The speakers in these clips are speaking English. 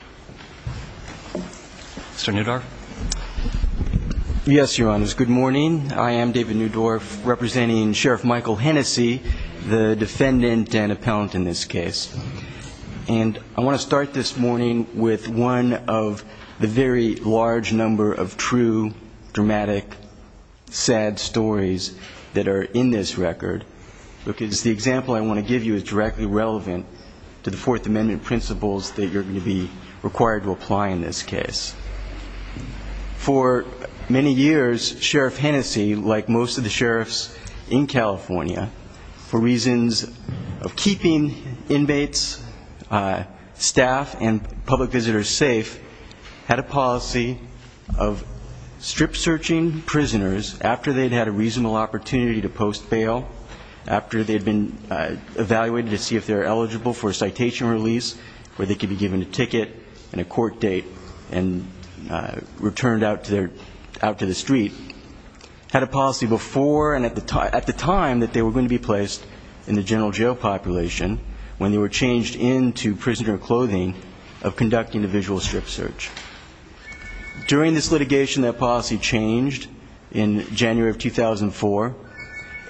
Good morning. I am David Newdorf representing Sheriff Michael Hennessy, the defendant and appellant in this case. I want to start this morning with one of the very large number of true, dramatic, sad stories that are in this record. The example I want to give you is directly relevant to the Fourth Amendment principles that you're going to be required to apply in this case. For many years, Sheriff Hennessy, like most of the sheriffs in California, for reasons of keeping inmates, staff, and public visitors safe, had a policy of strip searching prisoners after they'd had a reasonable opportunity to post bail, after they'd been evaluated to see if they were eligible for a citation release, where they could be given a ticket and a court date and returned out to the street, had a policy before and at the time that they were going to be placed in the general jail population, when they were changed into prisoner clothing, of conducting a visual strip search. During this litigation, that policy changed in January of 2004.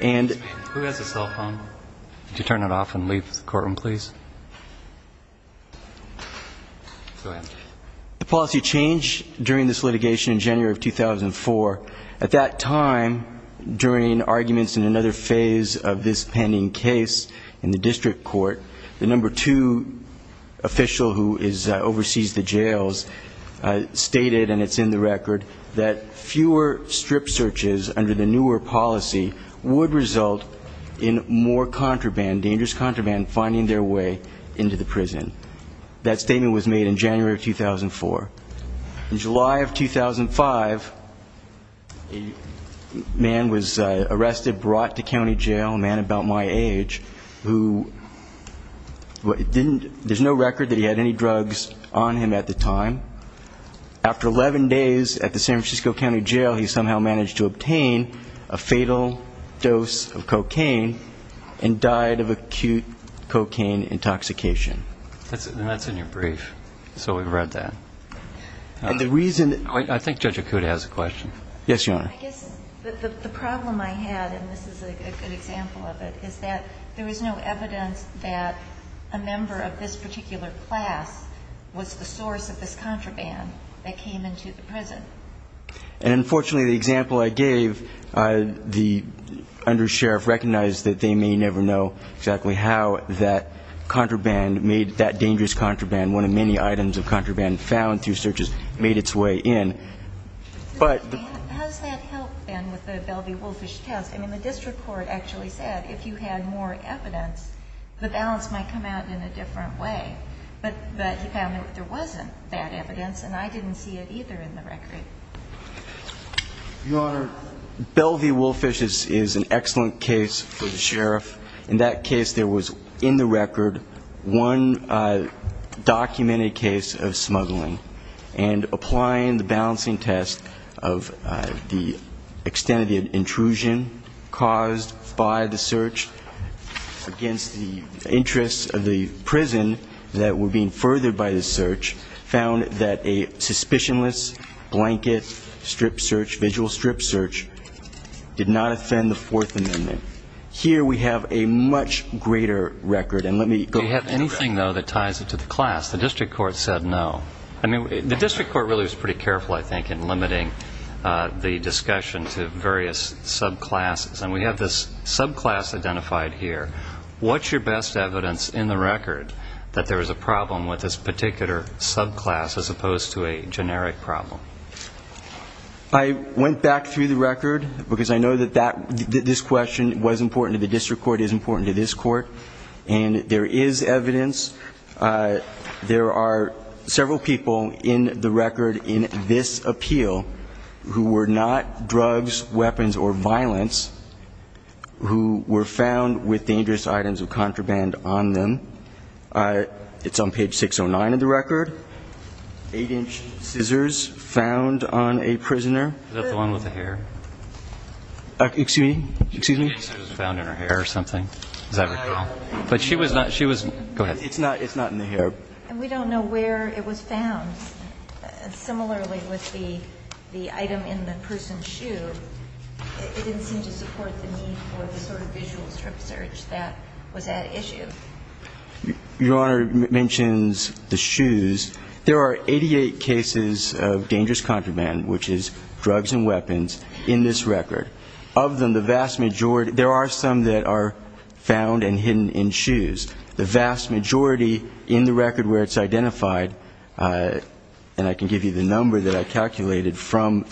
And the policy changed during this litigation in January of 2004. At that time, during arguments in another phase of this pending case in the district court, the number two official who oversees the jails stated, and it's in the record, that fewer strip searches under the newer policy would result in more contraband, dangerous contraband, finding their way into the prison. That statement was made in January of 2004. In July of 2005, a man was arrested, brought to county jail, a man about my age, who didn't, there's no record that he had any drugs on him at the time. After 11 days at the San Francisco County Jail, he somehow managed to obtain a fatal dose of cocaine and died of acute cocaine intoxication. That's in your brief. So we've read that. And the reason I think Judge Akuta has a question. Yes, Your Honor. I guess the problem I had, and this is a good example of it, is that there is no evidence that a member of this particular class was the source of this contraband that came into the prison. And unfortunately, the example I gave, the undersheriff recognized that they may never know exactly how that contraband made, that dangerous contraband, one of many items of contraband found through searches, made its way in. How does that help, then, with the Belvey-Wolfish test? I mean, the district court actually said, if you had more evidence, the balance might come out in a different way. But he found that there wasn't that evidence, and I didn't see it either in the record. Your Honor, Belvey-Wolfish is an excellent case for the sheriff. In that case, there was, in the record, one documented case of smuggling. And applying the balancing test of the extent of the intrusion caused by the search against the interests of the prison that were being furthered by the search, found that a suspicionless blanket strip search, visual strip search, did not offend the Fourth Amendment. Here, we have a much greater record. And let me go to the record. Do you have anything, though, that ties it to the class? The district court said no. I mean, the district court really was pretty careful, I think, in limiting the discussion to various subclasses. And we have this subclass identified here. What's your best evidence in the record that there is a problem with this particular subclass, as opposed to a generic problem? I went back through the record, because I know that this question was important to the people in the record in this appeal who were not drugs, weapons, or violence, who were found with dangerous items of contraband on them. It's on page 609 of the record. Eight-inch scissors found on a prisoner. Is that the one with the hair? Excuse me? Excuse me? She said it was found in her hair or something. Does that recall? But she was not, she was – go ahead. It's not, it's not in the hair. We don't know where it was found. Similarly with the item in the person's shoe, it didn't seem to support the need for the sort of visual strip search that was at issue. Your Honor mentions the shoes. There are 88 cases of dangerous contraband, which is drugs and weapons, in this record. Of them, the vast majority – there are some that are in the record where it's identified, and I can give you the number that I calculated from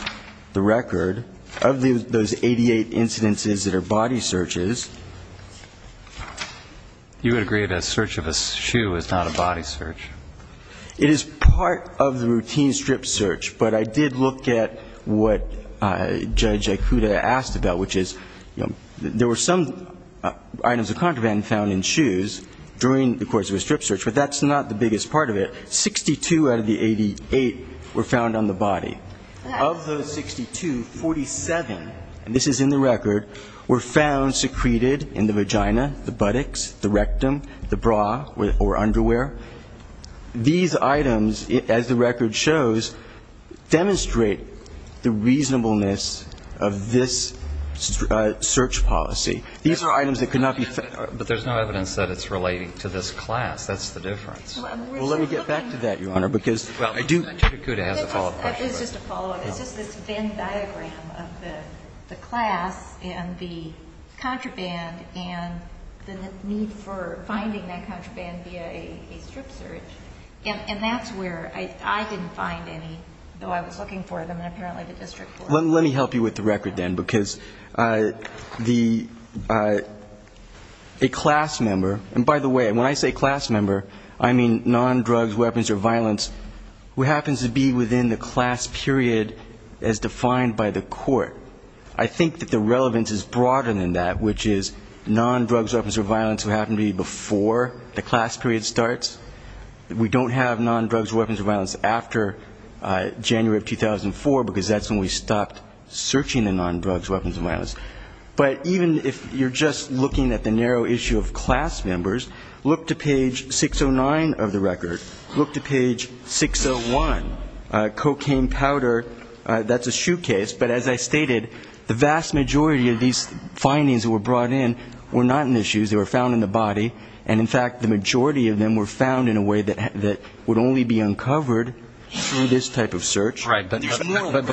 the record, of those 88 incidences that are body searches. You would agree that a search of a shoe is not a body search? It is part of the routine strip search, but I did look at what Judge Ikuda asked about, which is, you know, there were some items of contraband found in shoes during the course of a strip search, but that's not the biggest part of it. 62 out of the 88 were found on the body. Of those 62, 47, and this is in the record, were found secreted in the vagina, the buttocks, the rectum, the bra or underwear. These items, as the record shows, demonstrate the reasonableness of this search policy. These are items that could not be found. But there's no evidence that it's relating to this class. That's the difference. Well, let me get back to that, Your Honor, because I do – Judge Ikuda has a follow-up question. It's just a follow-up. It's just this Venn diagram of the class and the contraband and the need for finding that contraband via a strip search, and that's where I didn't find any, though I was looking for them, and apparently the district court – A class member – and by the way, when I say class member, I mean non-drugs, weapons, or violence who happens to be within the class period as defined by the court. I think that the relevance is broader than that, which is non-drugs, weapons, or violence who happen to be before the class period starts. We don't have non-drugs, weapons, or violence after January of 2004 because that's when we stopped searching the non-drugs, weapons, or violence. But even if you're just looking at the narrow issue of class members, look to page 609 of the record. Look to page 601. Cocaine powder, that's a shoe case, but as I stated, the vast majority of these findings that were brought in were not in the shoes. They were found in the body, and in fact, the majority of them were found in a way that would only be uncovered through this type of search. Right, but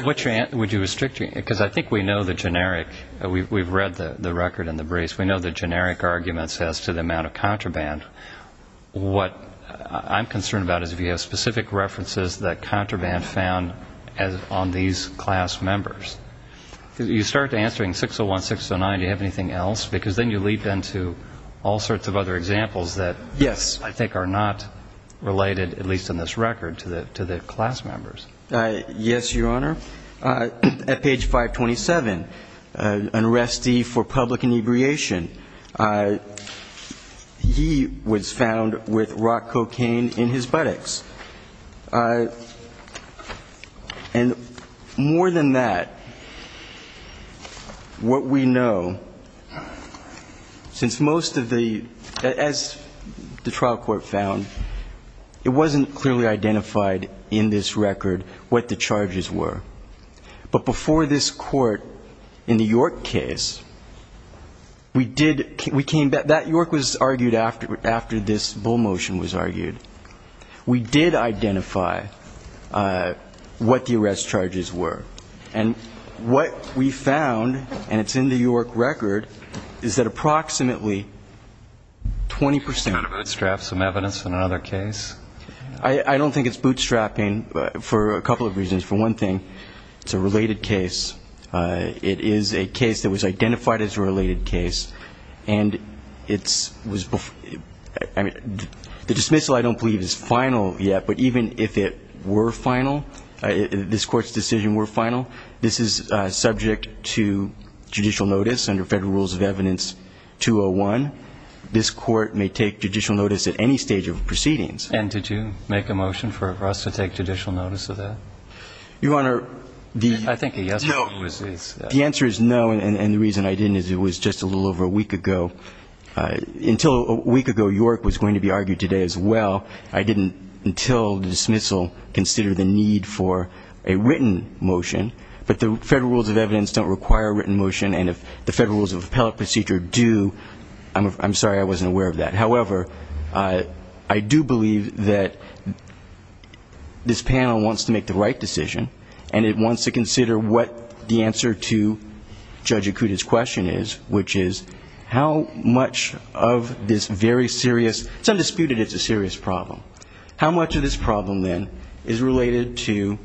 would you restrict – because I think we know the generic – we've read the record and the briefs – we know the generic arguments as to the amount of contraband. What I'm concerned about is if you have specific references that contraband found on these class members. You start answering 601, 609, do you have anything else? Because then you leap into all sorts of other examples that I think are not related, at least in this record, to the class members. Yes, Your Honor. At page 527, an arrestee for public inebriation, he was found with rock cocaine in his buttocks. And more than that, what we know, since most of the – as the trial court found, it wasn't clearly identified in this record what the charges were. But before this court, in the York case, we did – we came – that York was argued after this Bull motion was argued. We did identify what the arrest charges were. And what we found, and it's in the York record, is that approximately 20 percent of the – Can you kind of bootstrap some evidence in another case? I don't think it's bootstrapping for a couple of reasons. For one thing, it's a related case. It is a case that was identified as a related case. And it's – I mean, the dismissal, I don't believe, is final yet. But even if it were final, this Court's decision were final. This is subject to judicial notice under Federal Rules of Evidence 201. This Court may take judicial notice at any stage of proceedings. And did you make a motion for us to take judicial notice of that? Your Honor, the – I think a yes vote was – The answer is no. And the reason I didn't is it was just a little over a week ago. Until a week ago, York was going to be argued today as well. I didn't, until the dismissal, consider the need for a written motion. But the Federal Rules of Evidence don't require a written motion. And if the Federal Rules of Appellate Procedure do, I'm sorry, I wasn't aware of that. However, I do believe that this panel wants to make the right decision. And it wants to consider what the answer to Judge Akuta's question is, which is, how much of this very serious – it's undisputed it's a serious problem. How much of this problem, then, is related to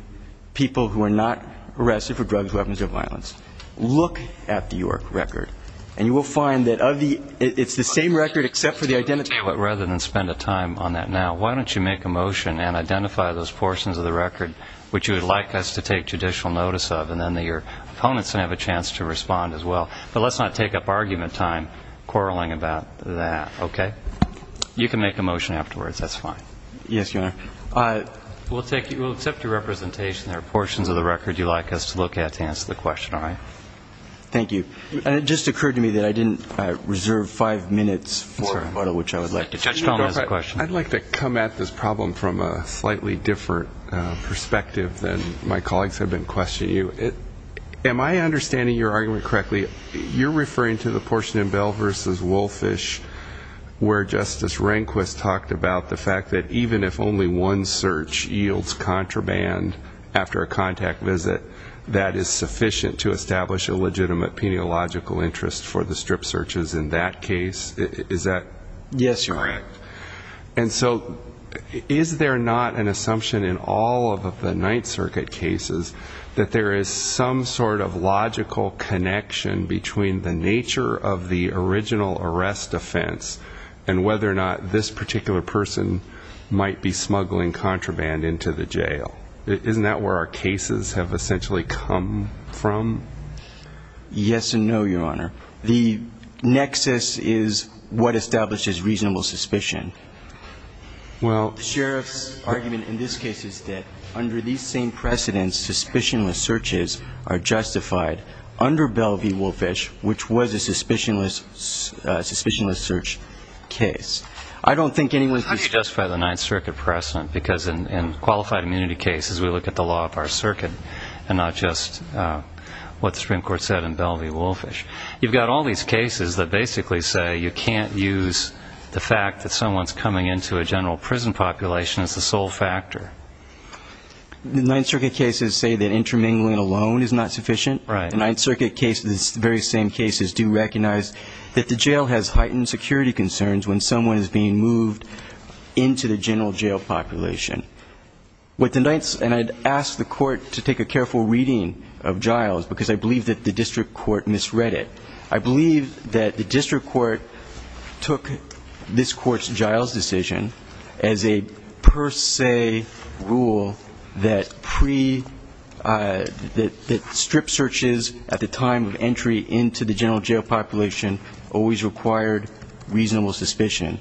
people who are not arrested for drugs, weapons, or violence? Look at the York record, and you will find that of the – it's the same record except for the identity – But rather than spend a time on that now, why don't you make a motion and identify those portions of the record which you would like us to take judicial notice of, and then your opponents would have a chance to respond as well. But let's not take up argument time quarreling about that, okay? You can make a motion afterwards, that's fine. Yes, Your Honor. We'll take – we'll accept your representation. There are portions of the record you'd like us to look at to answer the question, all right? Thank you. And it just occurred to me that I didn't reserve five minutes for a photo, which I would like to show as a question. I'd like to come at this problem from a slightly different perspective than my colleagues to the portion in Bell v. Woolfish where Justice Rehnquist talked about the fact that even if only one search yields contraband after a contact visit, that is sufficient to establish a legitimate peniological interest for the strip searches in that case. Is that correct? Yes, Your Honor. And so, is there not an assumption in all of the Ninth Circuit cases that there is some sort of logical connection between the nature of the original arrest offense and whether or not this particular person might be smuggling contraband into the jail? Isn't that where our cases have essentially come from? Yes and no, Your Honor. The nexus is what establishes reasonable suspicion. Well – The Sheriff's argument in this case is that under these same precedents, suspicionless searches are justified under Bell v. Woolfish, which was a suspicionless search case. I don't think anyone – How do you justify the Ninth Circuit precedent? Because in qualified immunity cases, we look at the law of our circuit and not just what the Supreme Court said in Bell v. Woolfish. You've got all these cases that basically say you can't use the fact that someone's coming into a general prison population as the sole factor. The Ninth Circuit cases say that intermingling alone is not sufficient. Right. The Ninth Circuit cases, the very same cases, do recognize that the jail has heightened security concerns when someone is being moved into the general jail population. What the Ninth – and I'd ask the Court to take a careful reading of Giles because I believe that the District Court misread it. I believe that the District Court took this Court's decision as a per se rule that pre – that strip searches at the time of entry into the general jail population always required reasonable suspicion.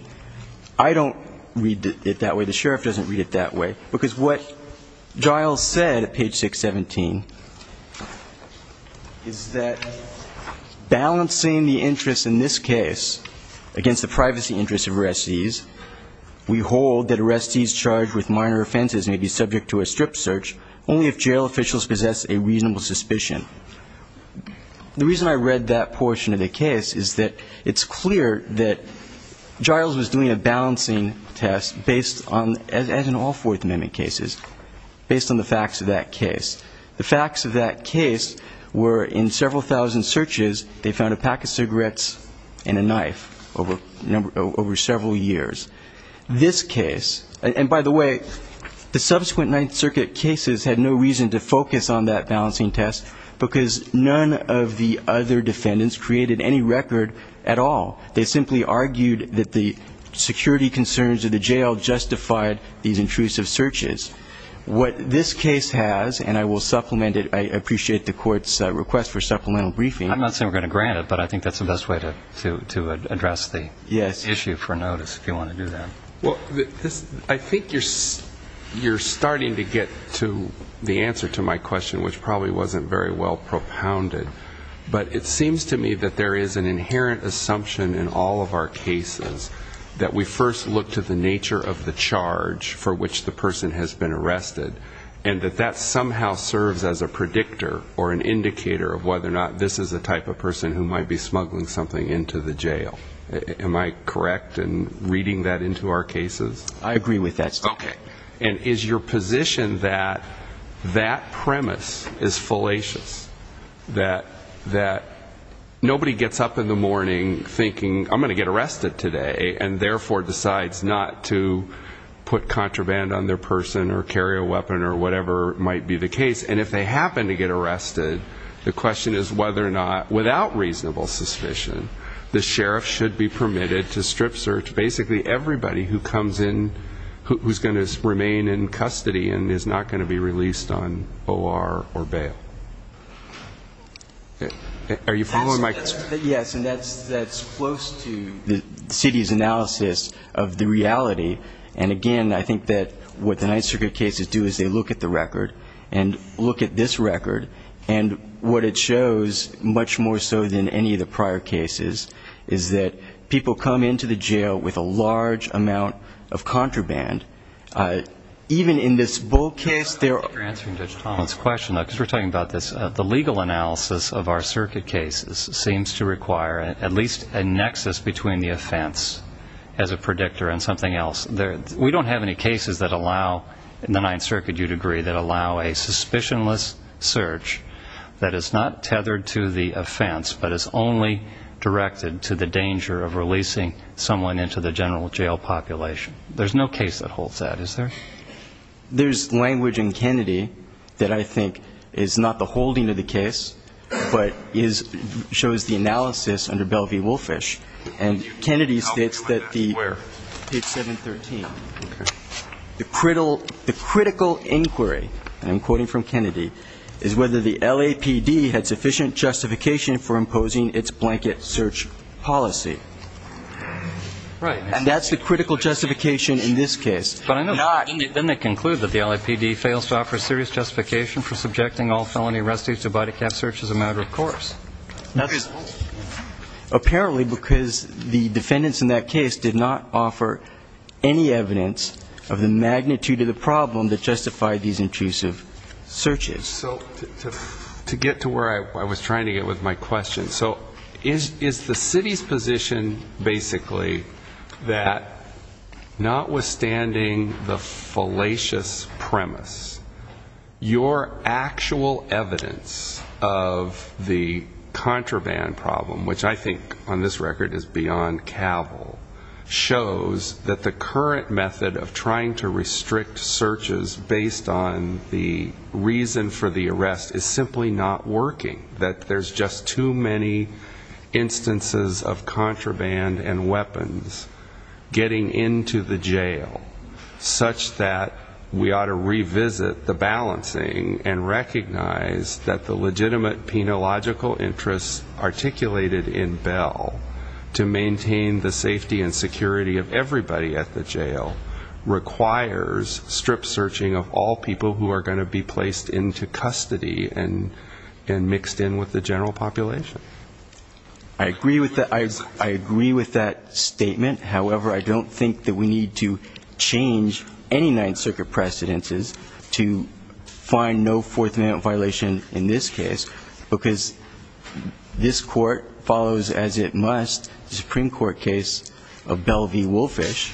I don't read it that way. The Sheriff doesn't read it that way because what Giles said at page 617 is that balancing the interests in this case against the privacy interests of arrestees, we hold that arrestees charged with minor offenses may be subject to a strip search only if jail officials possess a reasonable suspicion. The reason I read that portion of the case is that it's clear that Giles was doing a balancing test based on – as in all Fourth Amendment cases, based on the facts of that case. The facts of that case were in several thousand searches they found a pack of cigarettes and a knife over several years. This case – and by the way, the subsequent Ninth Circuit cases had no reason to focus on that balancing test because none of the other defendants created any record at all. They simply argued that the security concerns of the jail justified these intrusive searches. What this case has, and I will supplement it, I appreciate the court's request for supplemental briefing. I'm not saying we're going to grant it, but I think that's the best way to address the issue for notice if you want to do that. I think you're starting to get to the answer to my question, which probably wasn't very well propounded, but it seems to me that there is an inherent assumption in all of our cases that we first look to the nature of the charge for which the person has been arrested and that that somehow serves as a predictor or an indicator of whether or not this is the type of person who might be smuggling something into the jail. Am I correct in reading that into our cases? I agree with that, sir. Okay. And is your position that that premise is fallacious? That nobody gets up in the morning thinking, I'm going to get arrested today, and therefore decides not to put contraband on their person or carry a weapon or whatever might be the case, and if they happen to get arrested, the question is whether or not, without reasonable suspicion, the sheriff should be permitted to strip search basically everybody who comes in, who's going to remain in custody and is not going to be released on O.R. or bail? Are you following my question? Yes, and that's close to the city's analysis of the reality. And again, I think that what the Ninth Circuit cases do is they look at the record and look at this record, and what it shows, much more so than any of the prior cases, is that people come into the jail with a large amount of contraband. Even in this bull case, there are I think you're answering Judge Tomlin's question, because we're talking about this. The legal analysis of our circuit cases seems to require at least a nexus between the offense as a predictor and something else. We don't have any cases that allow, in the Ninth Circuit you'd agree, that allow a suspicionless search that is not tethered to the offense, but is only directed to the danger of releasing someone into the general jail population. There's no case that holds that, is there? There's language in Kennedy that I think is not the holding of the case, but shows the analysis under Bell v. Woolfish. And Kennedy states that the page 713, the critical inquiry, and I'm quoting from Kennedy, is whether the LAPD had sufficient justification for imposing its blanket search policy. And that's the critical justification in this case. But then they conclude that the LAPD fails to offer serious justification for subjecting all felony arrestees to body cap searches as a matter of course. That's apparently because the defendants in that case did not offer any evidence of the magnitude of the problem that justified these intrusive searches. So to get to where I was trying to get with my question, so is the city's position basically that notwithstanding the fallacious premise, your actual evidence of the contraband problem, which I think on this record is beyond cavil, shows that the current method of trying to restrict searches based on the reason for the arrest is simply not working. That there's just too many instances of contraband and weapons getting into the jail, such that we ought to revisit the balancing and recognize that the legitimate penological interests articulated in Bell to maintain the safety and security of everybody at the jail requires strip searching of all people who are going to be placed into custody and mixed in with the general population. I agree with that statement. However, I don't think that we need to change any Ninth Circuit precedences to find no fourth amendment violation in this case, because this court follows as it must the Supreme Court case of Bell v. Woolfish,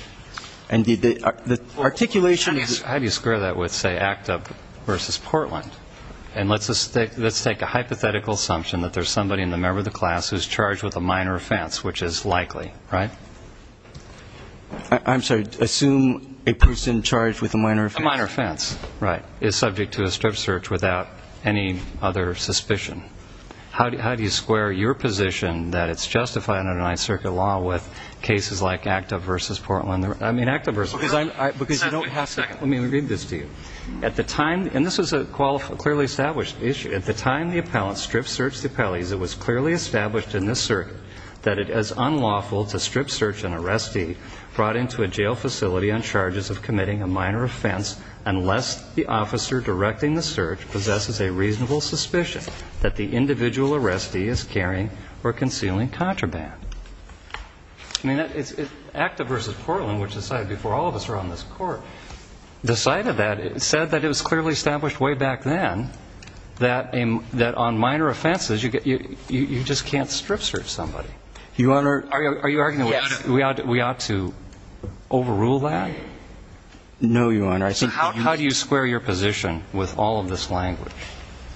and the articulation is... How do you square that with say ACT UP v. Portland? And let's take a hypothetical assumption that there's somebody in the member of the class who's charged with a minor offense, which is likely, right? I'm sorry. Assume a person charged with a minor offense... A minor offense, right, is subject to a strip search without any other suspicion. How do you square your position that it's justified under Ninth Circuit law with cases like ACT UP v. Portland? Let me read this to you. At the time, and this is a clearly established issue, at the time the appellant strip searched the appellees, it was clearly established in this circuit that it is unlawful to strip search an arrestee brought into a jail facility on charges of committing a minor offense unless the officer directing the search possesses a reasonable suspicion that the individual arrestee is carrying or concealing contraband. I mean, ACT UP v. Portland, which decided before all of us were on this Court, decided that. It said that it was clearly established way back then that on minor offenses, you just can't strip search somebody. Your Honor... Are you arguing that we ought to overrule that? No, Your Honor. So how do you square your position with all of this language?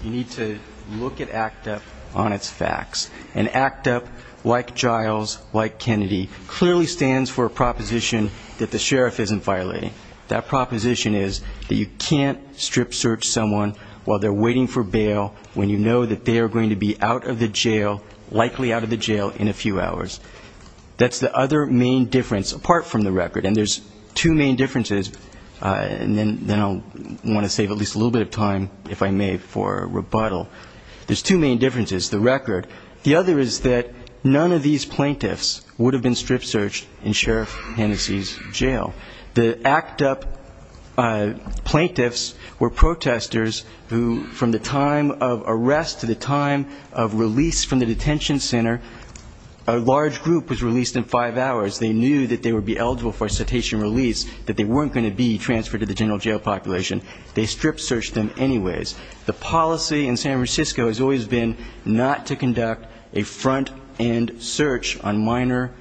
You need to look at ACT UP on its facts. And ACT UP, like Giles, like Kennedy, clearly stands for a proposition that the sheriff isn't violating. That proposition is that you can't strip search someone while they're waiting for bail when you know that they are going to be out of the jail, likely out of the jail, in a few hours. That's the other main difference, apart from the record. And there's two main differences, and then I'll want to save at least a little bit of time, if I may, for rebuttal. There's two main differences, the record. The other is that none of these plaintiffs would have been strip searched in Sheriff Hennessey's jail. The ACT UP plaintiffs were protesters who, from the time of arrest to the time of release from the detention center, a large group was released in five hours. They knew that they would be eligible for a cetacean release, that they weren't going to be transferred to the general jail population. They strip searched them anyways. The policy in San Francisco has always been not to conduct a front-end search on minor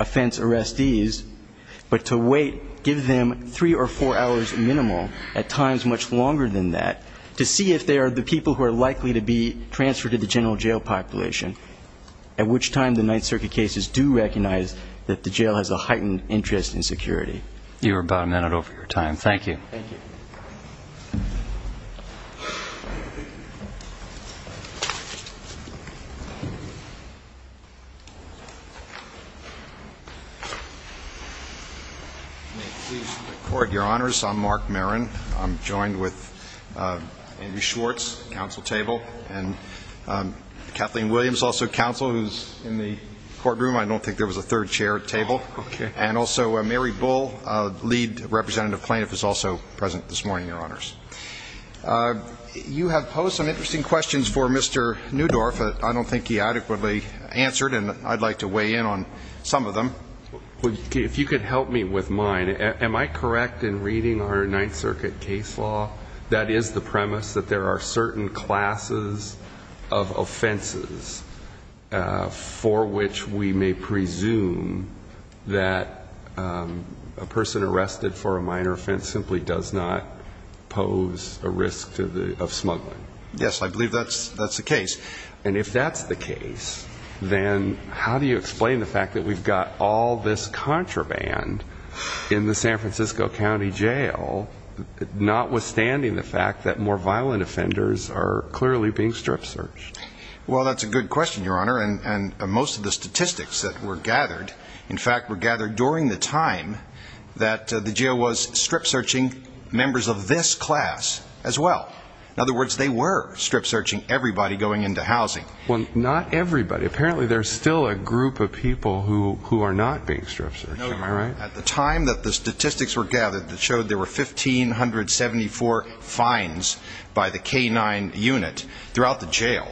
offense arrestees, but to wait, give them three or four hours minimal, at times much longer than that, to see if they are the people who are likely to be transferred to the general jail population, at which time the Ninth Circuit cases do recognize that the jail has a heightened interest in security. You were about a minute over your time. Thank you. Thank you. May it please the Court, Your Honors, I'm Mark Marin. I'm joined with Andrew Schwartz, counsel table, and Kathleen Williams, also counsel, who's in the courtroom. I don't think there was a third chair at table. Okay. And also Mary Bull, lead representative plaintiff, is also present this morning, Your Honors. You have posed some interesting questions for Mr. Newdorf that I don't think he adequately answered, and I'd like to weigh in on some of them. If you could help me with mine, am I correct in reading our Ninth Circuit case law that is the premise that there are certain classes of offenses for which we may presume that a person arrested for a minor offense simply does not pose a risk of smuggling? Yes, I believe that's the case. And if that's the case, then how do you explain the fact that we've got all this contraband in the San Francisco County Jail, notwithstanding the fact that more violent offenders are clearly being strip-searched? Well, that's a good question, Your Honor, and most of the statistics that were gathered, in fact, were gathered during the time that the jail was strip-searching members of this class as well. In other words, they were strip-searching everybody going into housing. Well, not everybody. Apparently, there's still a group of people who are not being strip-searched. Am I right? No. At the time that the statistics were gathered that showed there were 1,574 fines by the K-9 unit throughout the jail,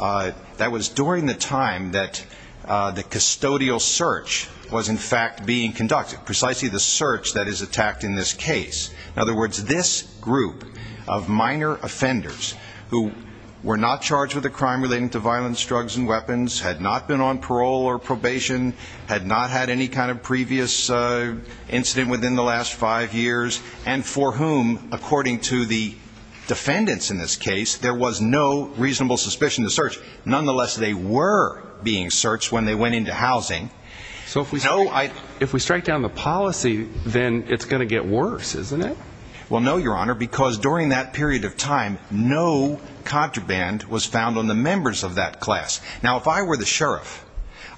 that was during the time that the custodial search was, in fact, being conducted, precisely the search that is attacked in this case. In other words, this group of minor offenders who were not charged with a crime relating to violence, drugs, and weapons, had not been on parole or probation, had not had any kind of previous incident within the last five years, and for whom, according to the defendants in this case, there was no reasonable suspicion of search. Nonetheless, they were being searched when they went into housing. So if we strike down the policy, then it's going to get worse, isn't it? Well, no, Your Honor, because during that period of time, no contraband was found on the members of that class. Now, if I were the sheriff,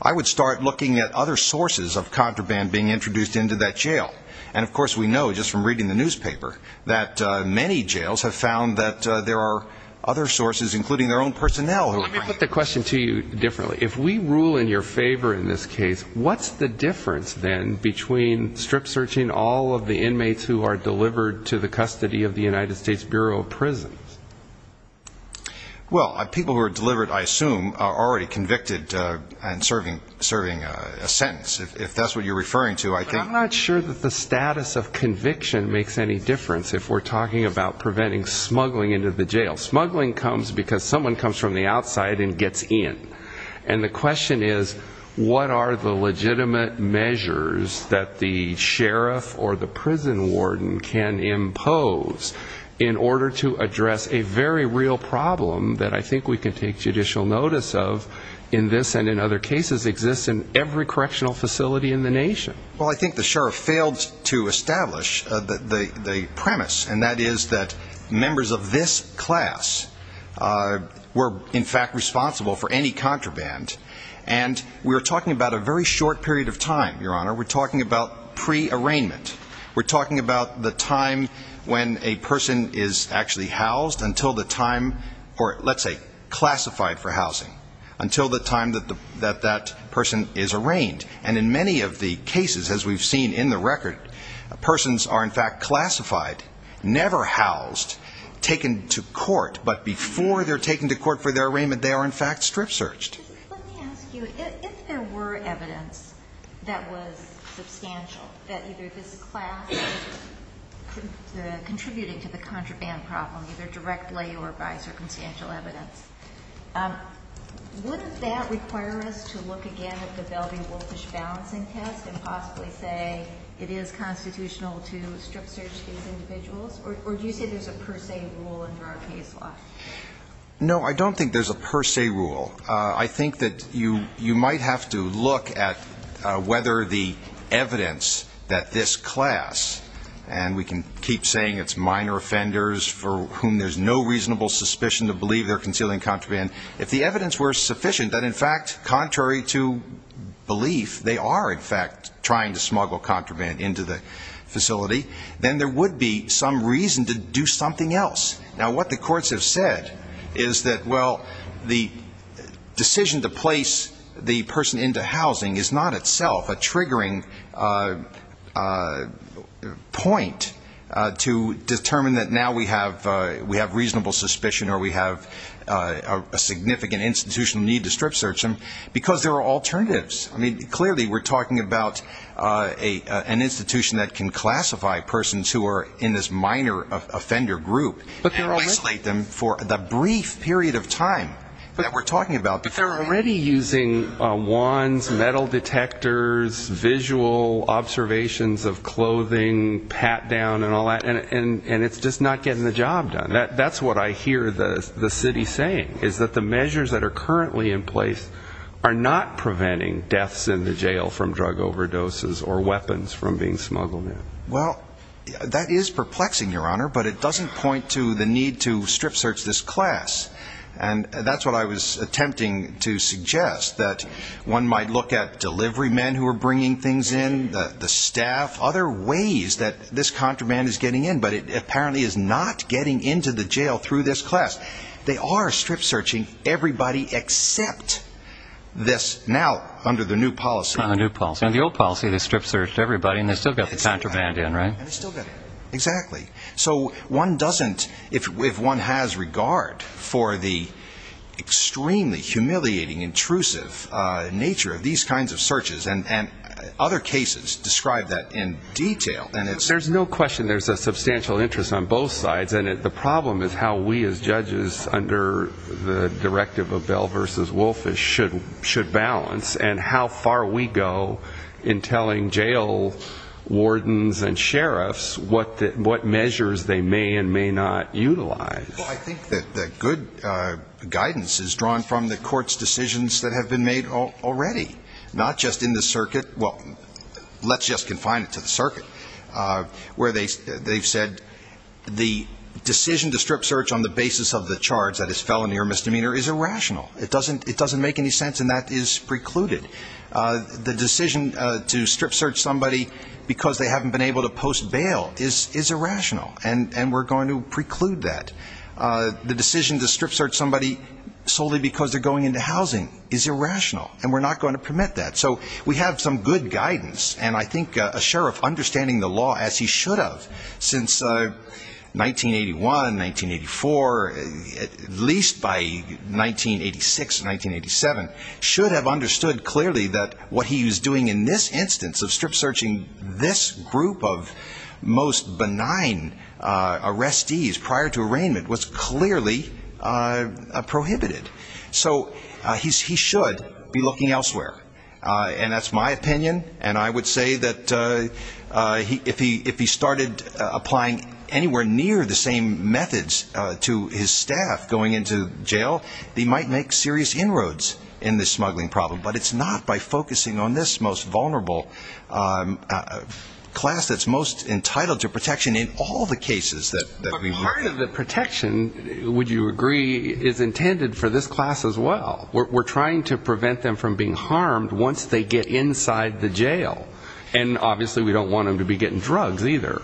I would start looking at other sources of contraband being introduced into that jail. And, of course, we know just from reading the newspaper that many jails have found that there are other sources, including their own personnel. Let me put the question to you differently. If we rule in your favor in this case, what's the difference, then, between strip-searching all of the inmates who are delivered to the custody of the United States Bureau of Prisons? Well, people who are delivered, I assume, are already convicted and serving a sentence. If that's what you're referring to, I think... But I'm not sure that the status of conviction makes any difference if we're talking about preventing smuggling into the jail. Smuggling comes because someone comes from the outside and gets in. And the question is, what are the legitimate measures that the sheriff or the prison warden can impose in order to address a very real problem that I think we can take judicial notice of in this and in other cases exists in every correctional facility in the nation? Well, I think the sheriff failed to establish the premise, and that is that members of this class were, in fact, responsible for any contraband. And we're talking about a very short period of time, Your Honor. We're talking about pre-arraignment. We're talking about the time when a person is actually housed until the time, or let's say classified for housing, until the time that that person is arraigned. And in many of the cases, as we've seen in the record, persons are, in fact, classified, never housed, taken to court. But before they're taken to court for their arraignment, they are, in fact, strip-searched. Justice, let me ask you, if there were evidence that was substantial, that either this class was contributing to the contraband problem, either directly or by circumstantial evidence, wouldn't that require us to look again at the Bellevue-Wolfish balancing test and possibly say it is constitutional to strip-search these individuals? Or do you say there's a per se rule under our case law? No, I don't think there's a per se rule. I think that you might have to look at whether the evidence that this class, and we can keep saying it's minor offenders for whom there's no reasonable suspicion to believe they're concealing contraband, if the evidence were sufficient that, in fact, contrary to belief, they are, in fact, trying to smuggle contraband into the facility, then there would be some reason to do something else. Now, what the courts have said is that, well, the decision to place the person into housing is not itself a triggering point to determine that now we have reasonable suspicion or we have a significant institutional need to strip-search them, because there are alternatives. Clearly, we're talking about an institution that can classify persons who are in this minor offender group and isolate them for the brief period of time that we're talking about. But they're already using wands, metal detectors, visual observations of clothing, pat-down and all that, and it's just not getting the job done. That's what I hear the city saying, is that the measures that are currently in place are not preventing deaths in the jail from drug overdoses or weapons from being smuggled in. Well, that is perplexing, Your Honor, but it doesn't point to the need to strip-search this class. And that's what I was attempting to suggest, that one might look at delivery men who are bringing things in, the staff, other ways that this contraband is getting in. But it apparently is not getting into the jail through this class. They are strip-searching everybody except this now under the new policy. The old policy, they strip-searched everybody, and they still got the contraband in, right? Exactly. So one doesn't, if one has regard for the extremely humiliating, intrusive nature of these kinds of searches, and other cases describe that in detail. There's no question there's a substantial interest on both sides, and the problem is how we as judges under the directive of Bell v. Wolfish should balance, and how far we go in telling jail wardens and sheriffs what measures they may and may not utilize. Well, I think that good guidance is drawn from the court's decisions that have been made already, not just in the circuit. Well, let's just confine it to the circuit, where they've said the decision to strip-search on the basis of the charge, that is felony or misdemeanor, is irrational. It doesn't make any sense, and that is precluded. The decision to strip-search somebody because they haven't been able to post bail is irrational, and we're going to preclude that. The decision to strip-search somebody solely because they're going into housing is irrational, and we're not going to permit that. So we have some good guidance, and I think a sheriff understanding the law, as he should have since 1981, 1984, at least by 1986, 1987, should have understood clearly that what he was doing in this instance of strip-searching this group of most benign arrestees prior to arraignment was clearly prohibited. So he should be looking elsewhere. And that's my opinion, and I would say that if he started applying anywhere near the same methods to his staff going into jail, he might make serious inroads in this smuggling problem. But it's not by focusing on this most vulnerable class that's most entitled to protection in all the cases that we've had. None of the protection, would you agree, is intended for this class as well. We're trying to prevent them from being harmed once they get inside the jail. And obviously we don't want them to be getting drugs either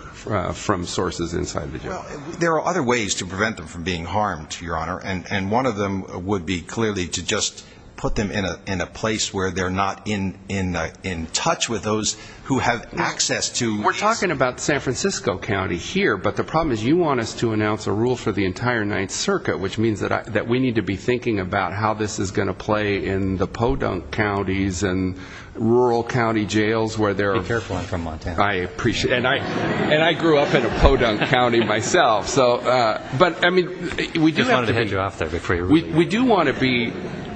from sources inside the jail. There are other ways to prevent them from being harmed, Your Honor, and one of them would be clearly to just put them in a place where they're not in touch with those who have access to We're talking about San Francisco County here, but the problem is you want us to announce a rule for the entire Ninth Circuit, which means that we need to be thinking about how this is going to play in the podunk counties and rural county jails. Be careful, I'm from Montana. I appreciate it. And I grew up in a podunk county myself. I just wanted to hand you off that before you read it.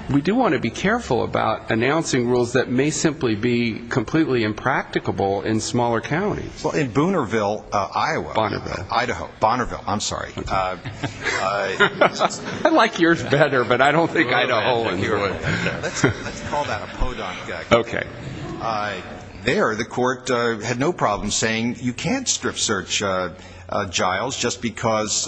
We do want to be careful about announcing rules that may simply be completely impracticable in smaller counties. Well, in Boonerville, Iowa. Bonnerville. Idaho. Bonnerville. I'm sorry. I like yours better, but I don't think Idaho would. Let's call that a podunk county. Okay. There the court had no problem saying you can't strip search Giles just because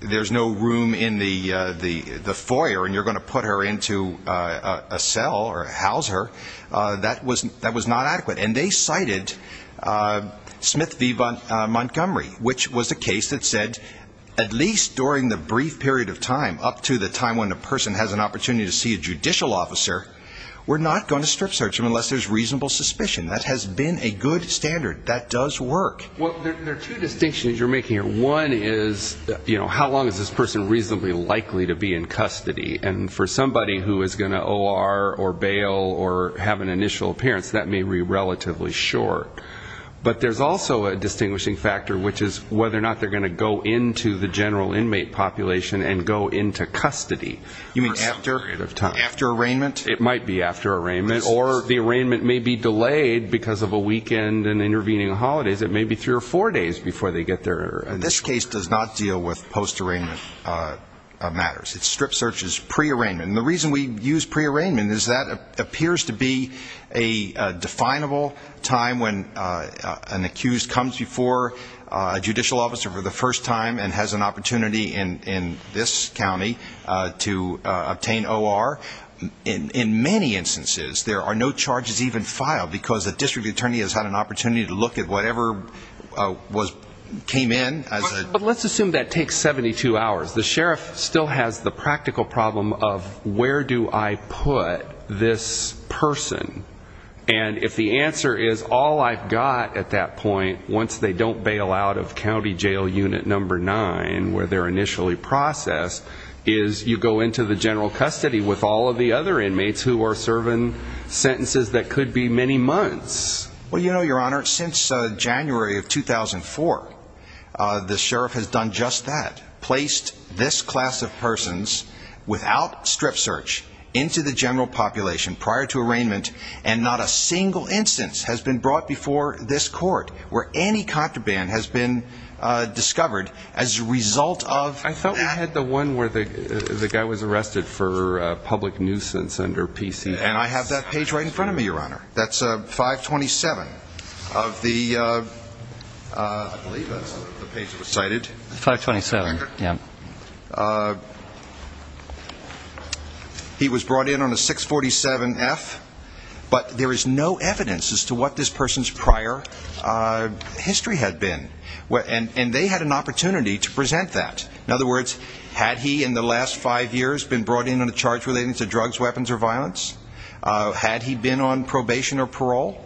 there's no room in the foyer and you're going to put her into a cell or house her. That was not adequate. And they cited Smith v. Montgomery, which was a case that said at least during the brief period of time, up to the time when the person has an opportunity to see a judicial officer, we're not going to strip search him unless there's reasonable suspicion. That has been a good standard. That does work. Well, there are two distinctions you're making here. One is, you know, how long is this person reasonably likely to be in custody? And for somebody who is going to OR or bail or have an initial appearance, that may be relatively short. But there's also a distinguishing factor, which is whether or not they're going to go into the general inmate population and go into custody. You mean after arraignment? It might be after arraignment. Or the arraignment may be delayed because of a weekend and intervening holidays. It may be three or four days before they get there. This case does not deal with post-arraignment matters. It strip searches pre-arraignment. And the reason we use pre-arraignment is that appears to be a definable time when an accused comes before a judicial officer for the first time and has an opportunity in this county to obtain OR. In many instances, there are no charges even filed because a district attorney has had an opportunity to look at whatever came in. But let's assume that takes 72 hours. The sheriff still has the practical problem of where do I put this person? And if the answer is all I've got at that point, once they don't bail out of county jail unit number nine where they're initially processed, is you go into the general custody with all of the other inmates who are serving sentences that could be many months. Well, you know, Your Honor, since January of 2004, the sheriff has done just that, placed this class of persons without strip search into the general population prior to arraignment, and not a single instance has been brought before this court where any contraband has been discovered as a result of that. I thought we had the one where the guy was arrested for public nuisance under PCS. And I have that page right in front of me, Your Honor. That's 527 of the page that was cited. 527, yeah. He was brought in on a 647F, but there is no evidence as to what this person's prior history had been. And they had an opportunity to present that. In other words, had he in the last five years been brought in on a charge relating to drugs, weapons, or violence? Had he been on probation or parole?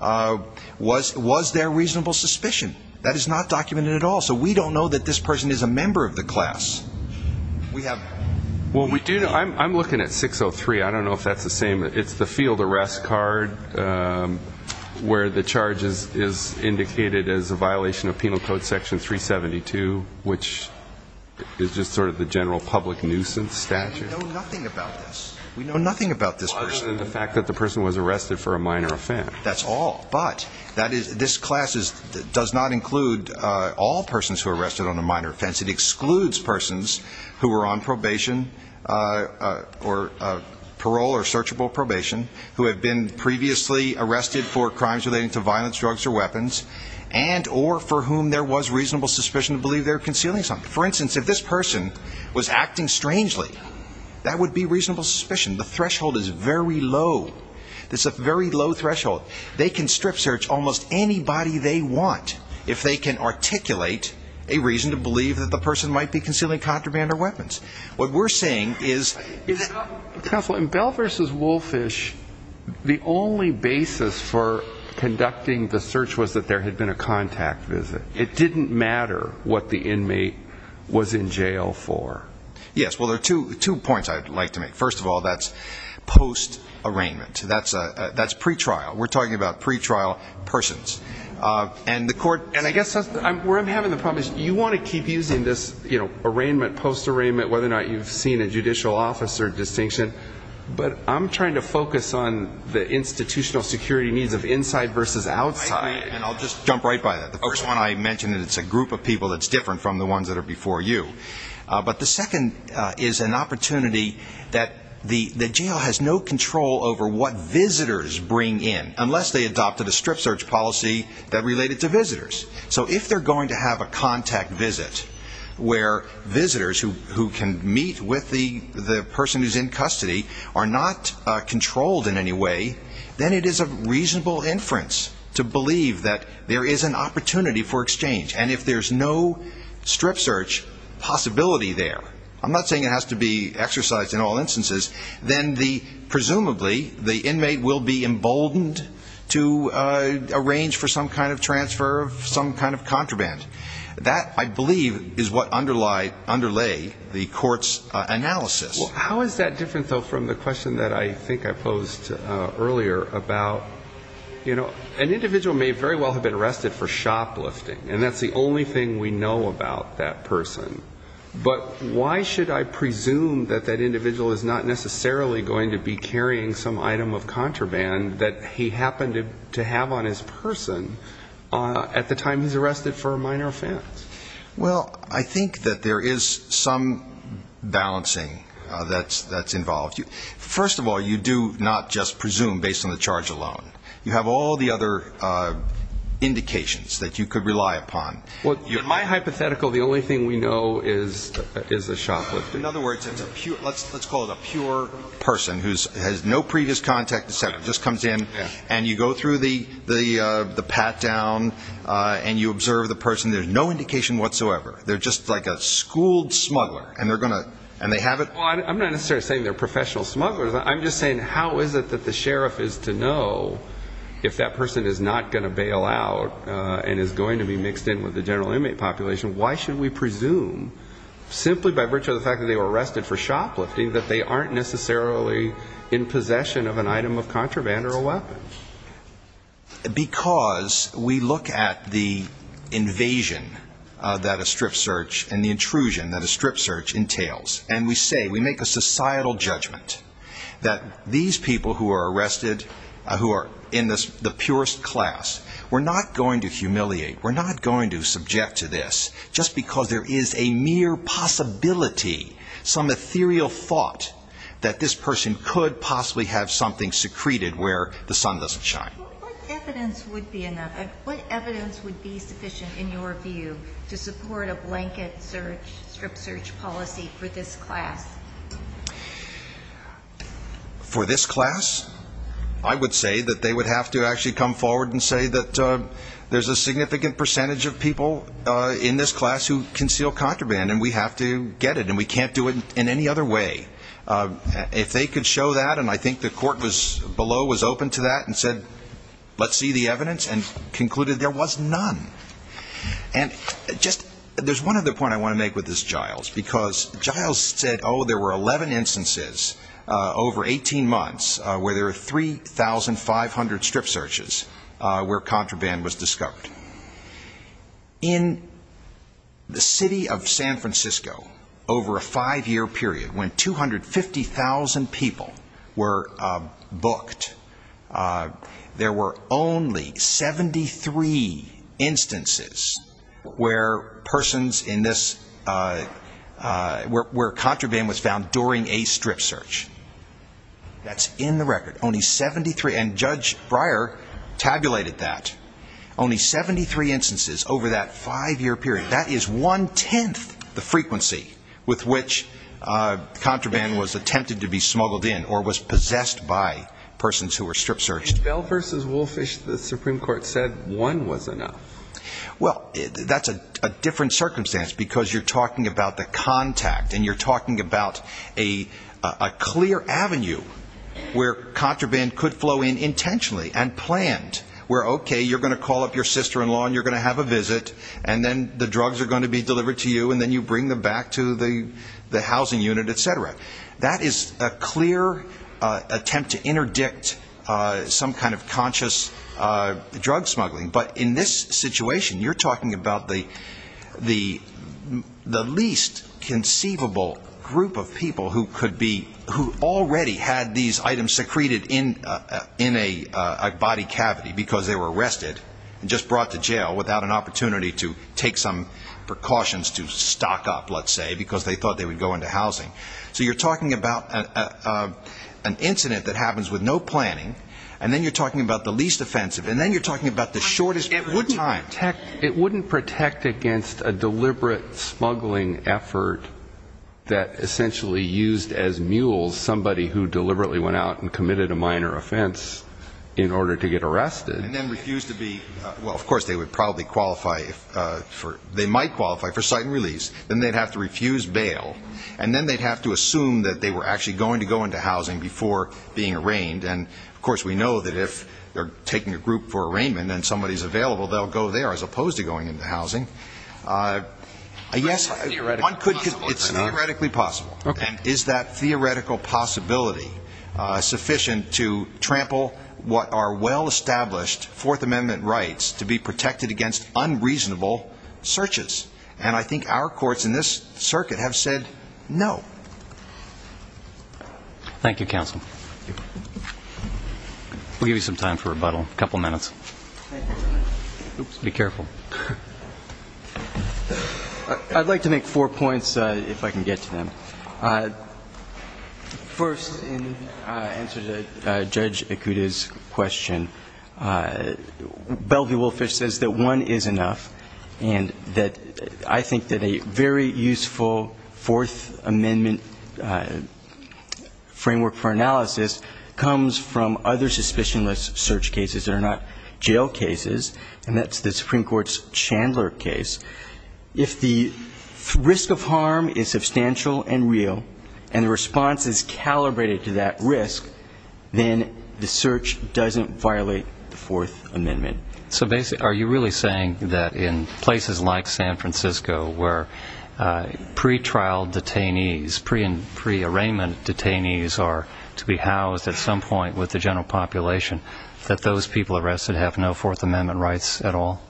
Was there reasonable suspicion? That is not documented at all. So we don't know that this person is a member of the class. Well, I'm looking at 603. I don't know if that's the same. It's the field arrest card where the charge is indicated as a violation of Penal Code Section 372, which is just sort of the general public nuisance statute. We know nothing about this. We know nothing about this person. Other than the fact that the person was arrested for a minor offense. That's all. But this class does not include all persons who are arrested on a minor offense. It excludes persons who were on probation or parole or searchable probation who had been previously arrested for crimes relating to violence, drugs, or weapons and or for whom there was reasonable suspicion to believe they were concealing something. For instance, if this person was acting strangely, that would be reasonable suspicion. The threshold is very low. It's a very low threshold. They can strip search almost anybody they want if they can articulate a reason to believe that the person might be concealing contraband or weapons. What we're saying is... Counsel, in Bell v. Wolfish, the only basis for conducting the search was that there had been a contact visit. It didn't matter what the inmate was in jail for. Yes. Well, there are two points I'd like to make. First of all, that's post-arraignment. That's pretrial. We're talking about pretrial persons. And I guess where I'm having the problem is you want to keep using this arraignment, post-arraignment, whether or not you've seen a judicial officer distinction. But I'm trying to focus on the institutional security needs of inside versus outside. And I'll just jump right by that. The first one I mentioned is it's a group of people that's different from the ones that are before you. But the second is an opportunity that the jail has no control over what visitors bring in, unless they adopted a strip search policy that related to visitors. So if they're going to have a contact visit where visitors who can meet with the person who's in custody are not controlled in any way, then it is of reasonable inference to believe that there is an opportunity for exchange. And if there's no strip search possibility there, I'm not saying it has to be exercised in all instances, then presumably the inmate will be emboldened to arrange for some kind of transfer of some kind of contraband. That, I believe, is what underlay the court's analysis. Well, how is that different, though, from the question that I think I posed earlier about, you know, an individual may very well have been arrested for shoplifting, and that's the only thing we know about that person. But why should I presume that that individual is not necessarily going to be carrying some item of contraband that he happened to have on his person at the time he's arrested for a minor offense? Well, I think that there is some balancing that's involved. First of all, you do not just presume based on the charge alone. You have all the other indications that you could rely upon. In my hypothetical, the only thing we know is a shoplifter. In other words, let's call it a pure person who has no previous contact, just comes in, and you go through the pat-down and you observe the person. There's no indication whatsoever. They're just like a schooled smuggler, and they have it. Well, I'm not necessarily saying they're professional smugglers. I'm just saying how is it that the sheriff is to know if that person is not going to bail out and is going to be mixed in with the general inmate population? Why should we presume, simply by virtue of the fact that they were arrested for shoplifting, that they aren't necessarily in possession of an item of contraband or a weapon? Because we look at the invasion that a strip search and the intrusion that a strip search entails, and we say, we make a societal judgment that these people who are arrested, who are in the purest class, we're not going to humiliate, we're not going to subject to this, just because there is a mere possibility, some ethereal thought, that this person could possibly have something secreted where the sun doesn't shine. What evidence would be sufficient, in your view, to support a blanket strip search policy for this class? For this class, I would say that they would have to actually come forward and say that there's a significant percentage of people in this class who conceal contraband, and we have to get it, and we can't do it in any other way. If they could show that, and I think the court below was open to that, and said, let's see the evidence, and concluded there was none. There's one other point I want to make with this, Giles, because Giles said, oh, there were 11 instances over 18 months where there were 3,500 strip searches where contraband was discovered. In the city of San Francisco, over a five-year period, when 250,000 people were booked, there were only 73 instances where persons in this, where contraband was found during a strip search. That's in the record, only 73, and Judge Breyer tabulated that. Only 73 instances over that five-year period. That is one-tenth the frequency with which contraband was attempted to be smuggled in or was possessed by persons who were strip searched. In Bell v. Woolfish, the Supreme Court said one was enough. Well, that's a different circumstance because you're talking about the contact, and you're talking about a clear avenue where contraband could flow in intentionally and planned, where, okay, you're going to call up your sister-in-law and you're going to have a visit, and then the drugs are going to be delivered to you, and then you bring them back to the housing unit, et cetera. That is a clear attempt to interdict some kind of conscious drug smuggling. But in this situation, you're talking about the least conceivable group of people who already had these items secreted in a body cavity because they were arrested and just brought to jail without an opportunity to take some precautions to stock up, let's say, because they thought they would go into housing. So you're talking about an incident that happens with no planning, and then you're talking about the least offensive, and then you're talking about the shortest period of time. It wouldn't protect against a deliberate smuggling effort that essentially used as mules somebody who deliberately went out and committed a minor offense in order to get arrested. And then refused to be, well, of course, they would probably qualify for, they might qualify for sight and release. Then they'd have to refuse bail. And then they'd have to assume that they were actually going to go into housing before being arraigned. And, of course, we know that if they're taking a group for arraignment and somebody's available, they'll go there as opposed to going into housing. Yes, it's theoretically possible. And is that theoretical possibility sufficient to trample what are well-established Fourth Amendment rights to be protected against unreasonable searches? And I think our courts in this circuit have said no. Thank you, counsel. We'll give you some time for rebuttal. A couple minutes. Be careful. I'd like to make four points, if I can get to them. First, in answer to Judge Ikuda's question, Bellevue-Wolfish says that one is enough, and that I think that a very useful Fourth Amendment framework for analysis comes from other suspicionless search cases that are not jail cases, and that's the Supreme Court's Chandler case. If the risk of harm is substantial and real, and the response is calibrated to that risk, then the search doesn't violate the Fourth Amendment. So are you really saying that in places like San Francisco, where pre-trial detainees, pre-arraignment detainees are to be housed at some point with the general population, that those people arrested have no Fourth Amendment rights at all?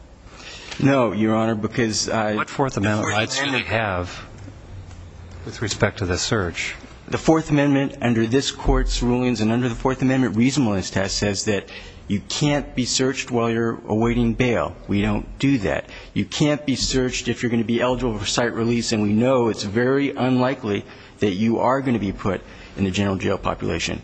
No, Your Honor, because I... What Fourth Amendment rights do they have with respect to the search? The Fourth Amendment, under this Court's rulings and under the Fourth Amendment reasonableness test, says that you can't be searched while you're awaiting bail. We don't do that. You can't be searched if you're going to be eligible for site release, and we know it's very unlikely that you are going to be put in the general jail population.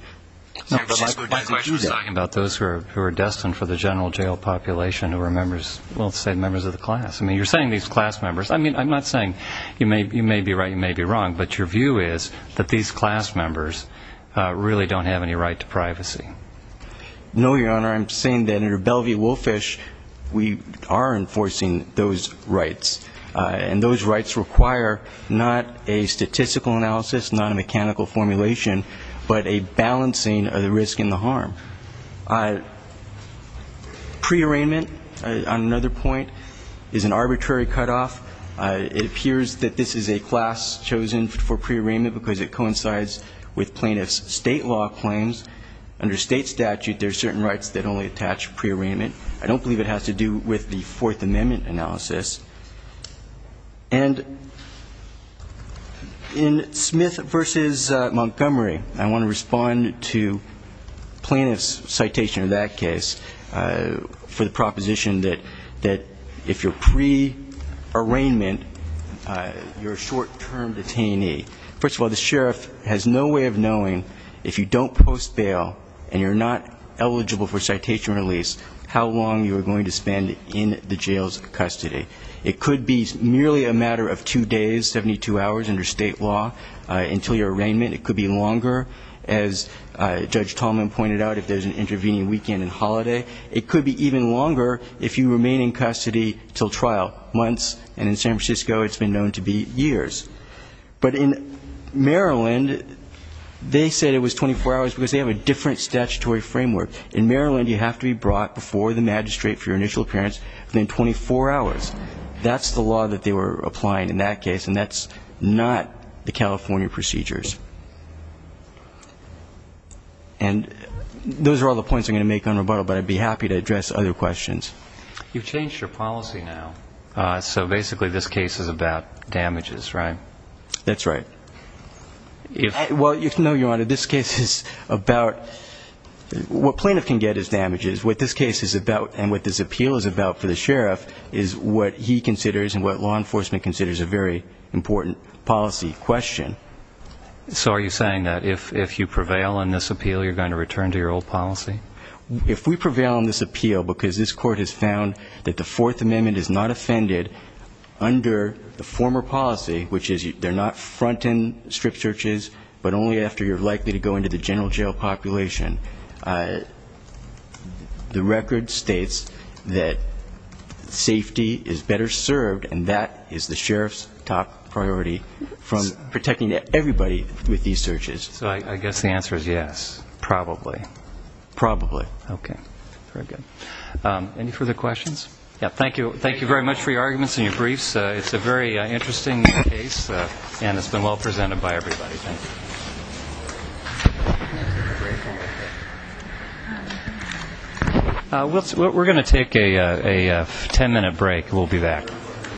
My question is talking about those who are destined for the general jail population who are members, well, let's say members of the class. I mean, you're saying these class members. I mean, I'm not saying you may be right, you may be wrong, but your view is that these class members really don't have any right to privacy. No, Your Honor, I'm saying that under Bellevue-Wolfish, we are enforcing those rights, and those rights require not a statistical analysis, not a mechanical formulation, but a balancing of the risk and the harm. Pre-arraignment, on another point, is an arbitrary cutoff. It appears that this is a class chosen for pre-arraignment because it coincides with plaintiffs' state law claims. Under state statute, there are certain rights that only attach pre-arraignment. I don't believe it has to do with the Fourth Amendment analysis. And in Smith v. Montgomery, I want to respond to plaintiffs' citation in that case for the proposition that if you're pre-arraignment, you're a short-term detainee. First of all, the sheriff has no way of knowing, if you don't post bail and you're not eligible for citation release, how long you are going to spend in the jail's custody. It could be merely a matter of two days, 72 hours, under state law until your arraignment. It could be longer, as Judge Tallman pointed out, if there's an intervening weekend and holiday. It could be even longer if you remain in custody until trial, months. And in San Francisco, it's been known to be years. But in Maryland, they said it was 24 hours because they have a different statutory framework. In Maryland, you have to be brought before the magistrate for your initial appearance within 24 hours. That's the law that they were applying in that case, and that's not the California procedures. And those are all the points I'm going to make on rebuttal, but I'd be happy to address other questions. You've changed your policy now, so basically this case is about damages, right? That's right. Well, no, Your Honor, this case is about what plaintiff can get as damages. What this case is about and what this appeal is about for the sheriff is what he considers and what law enforcement considers a very important policy question. So are you saying that if you prevail on this appeal, you're going to return to your old policy? If we prevail on this appeal because this Court has found that the Fourth Amendment is not offended under the former policy, which is they're not front-end strip searches, but only after you're likely to go into the general jail population, the record states that safety is better served, and that is the sheriff's top priority from protecting everybody with these searches. So I guess the answer is yes. Probably. Probably. Okay. Very good. Any further questions? Thank you very much for your arguments and your briefs. It's a very interesting case, and it's been well presented by everybody. Thank you. We're going to take a ten-minute break. We'll be back.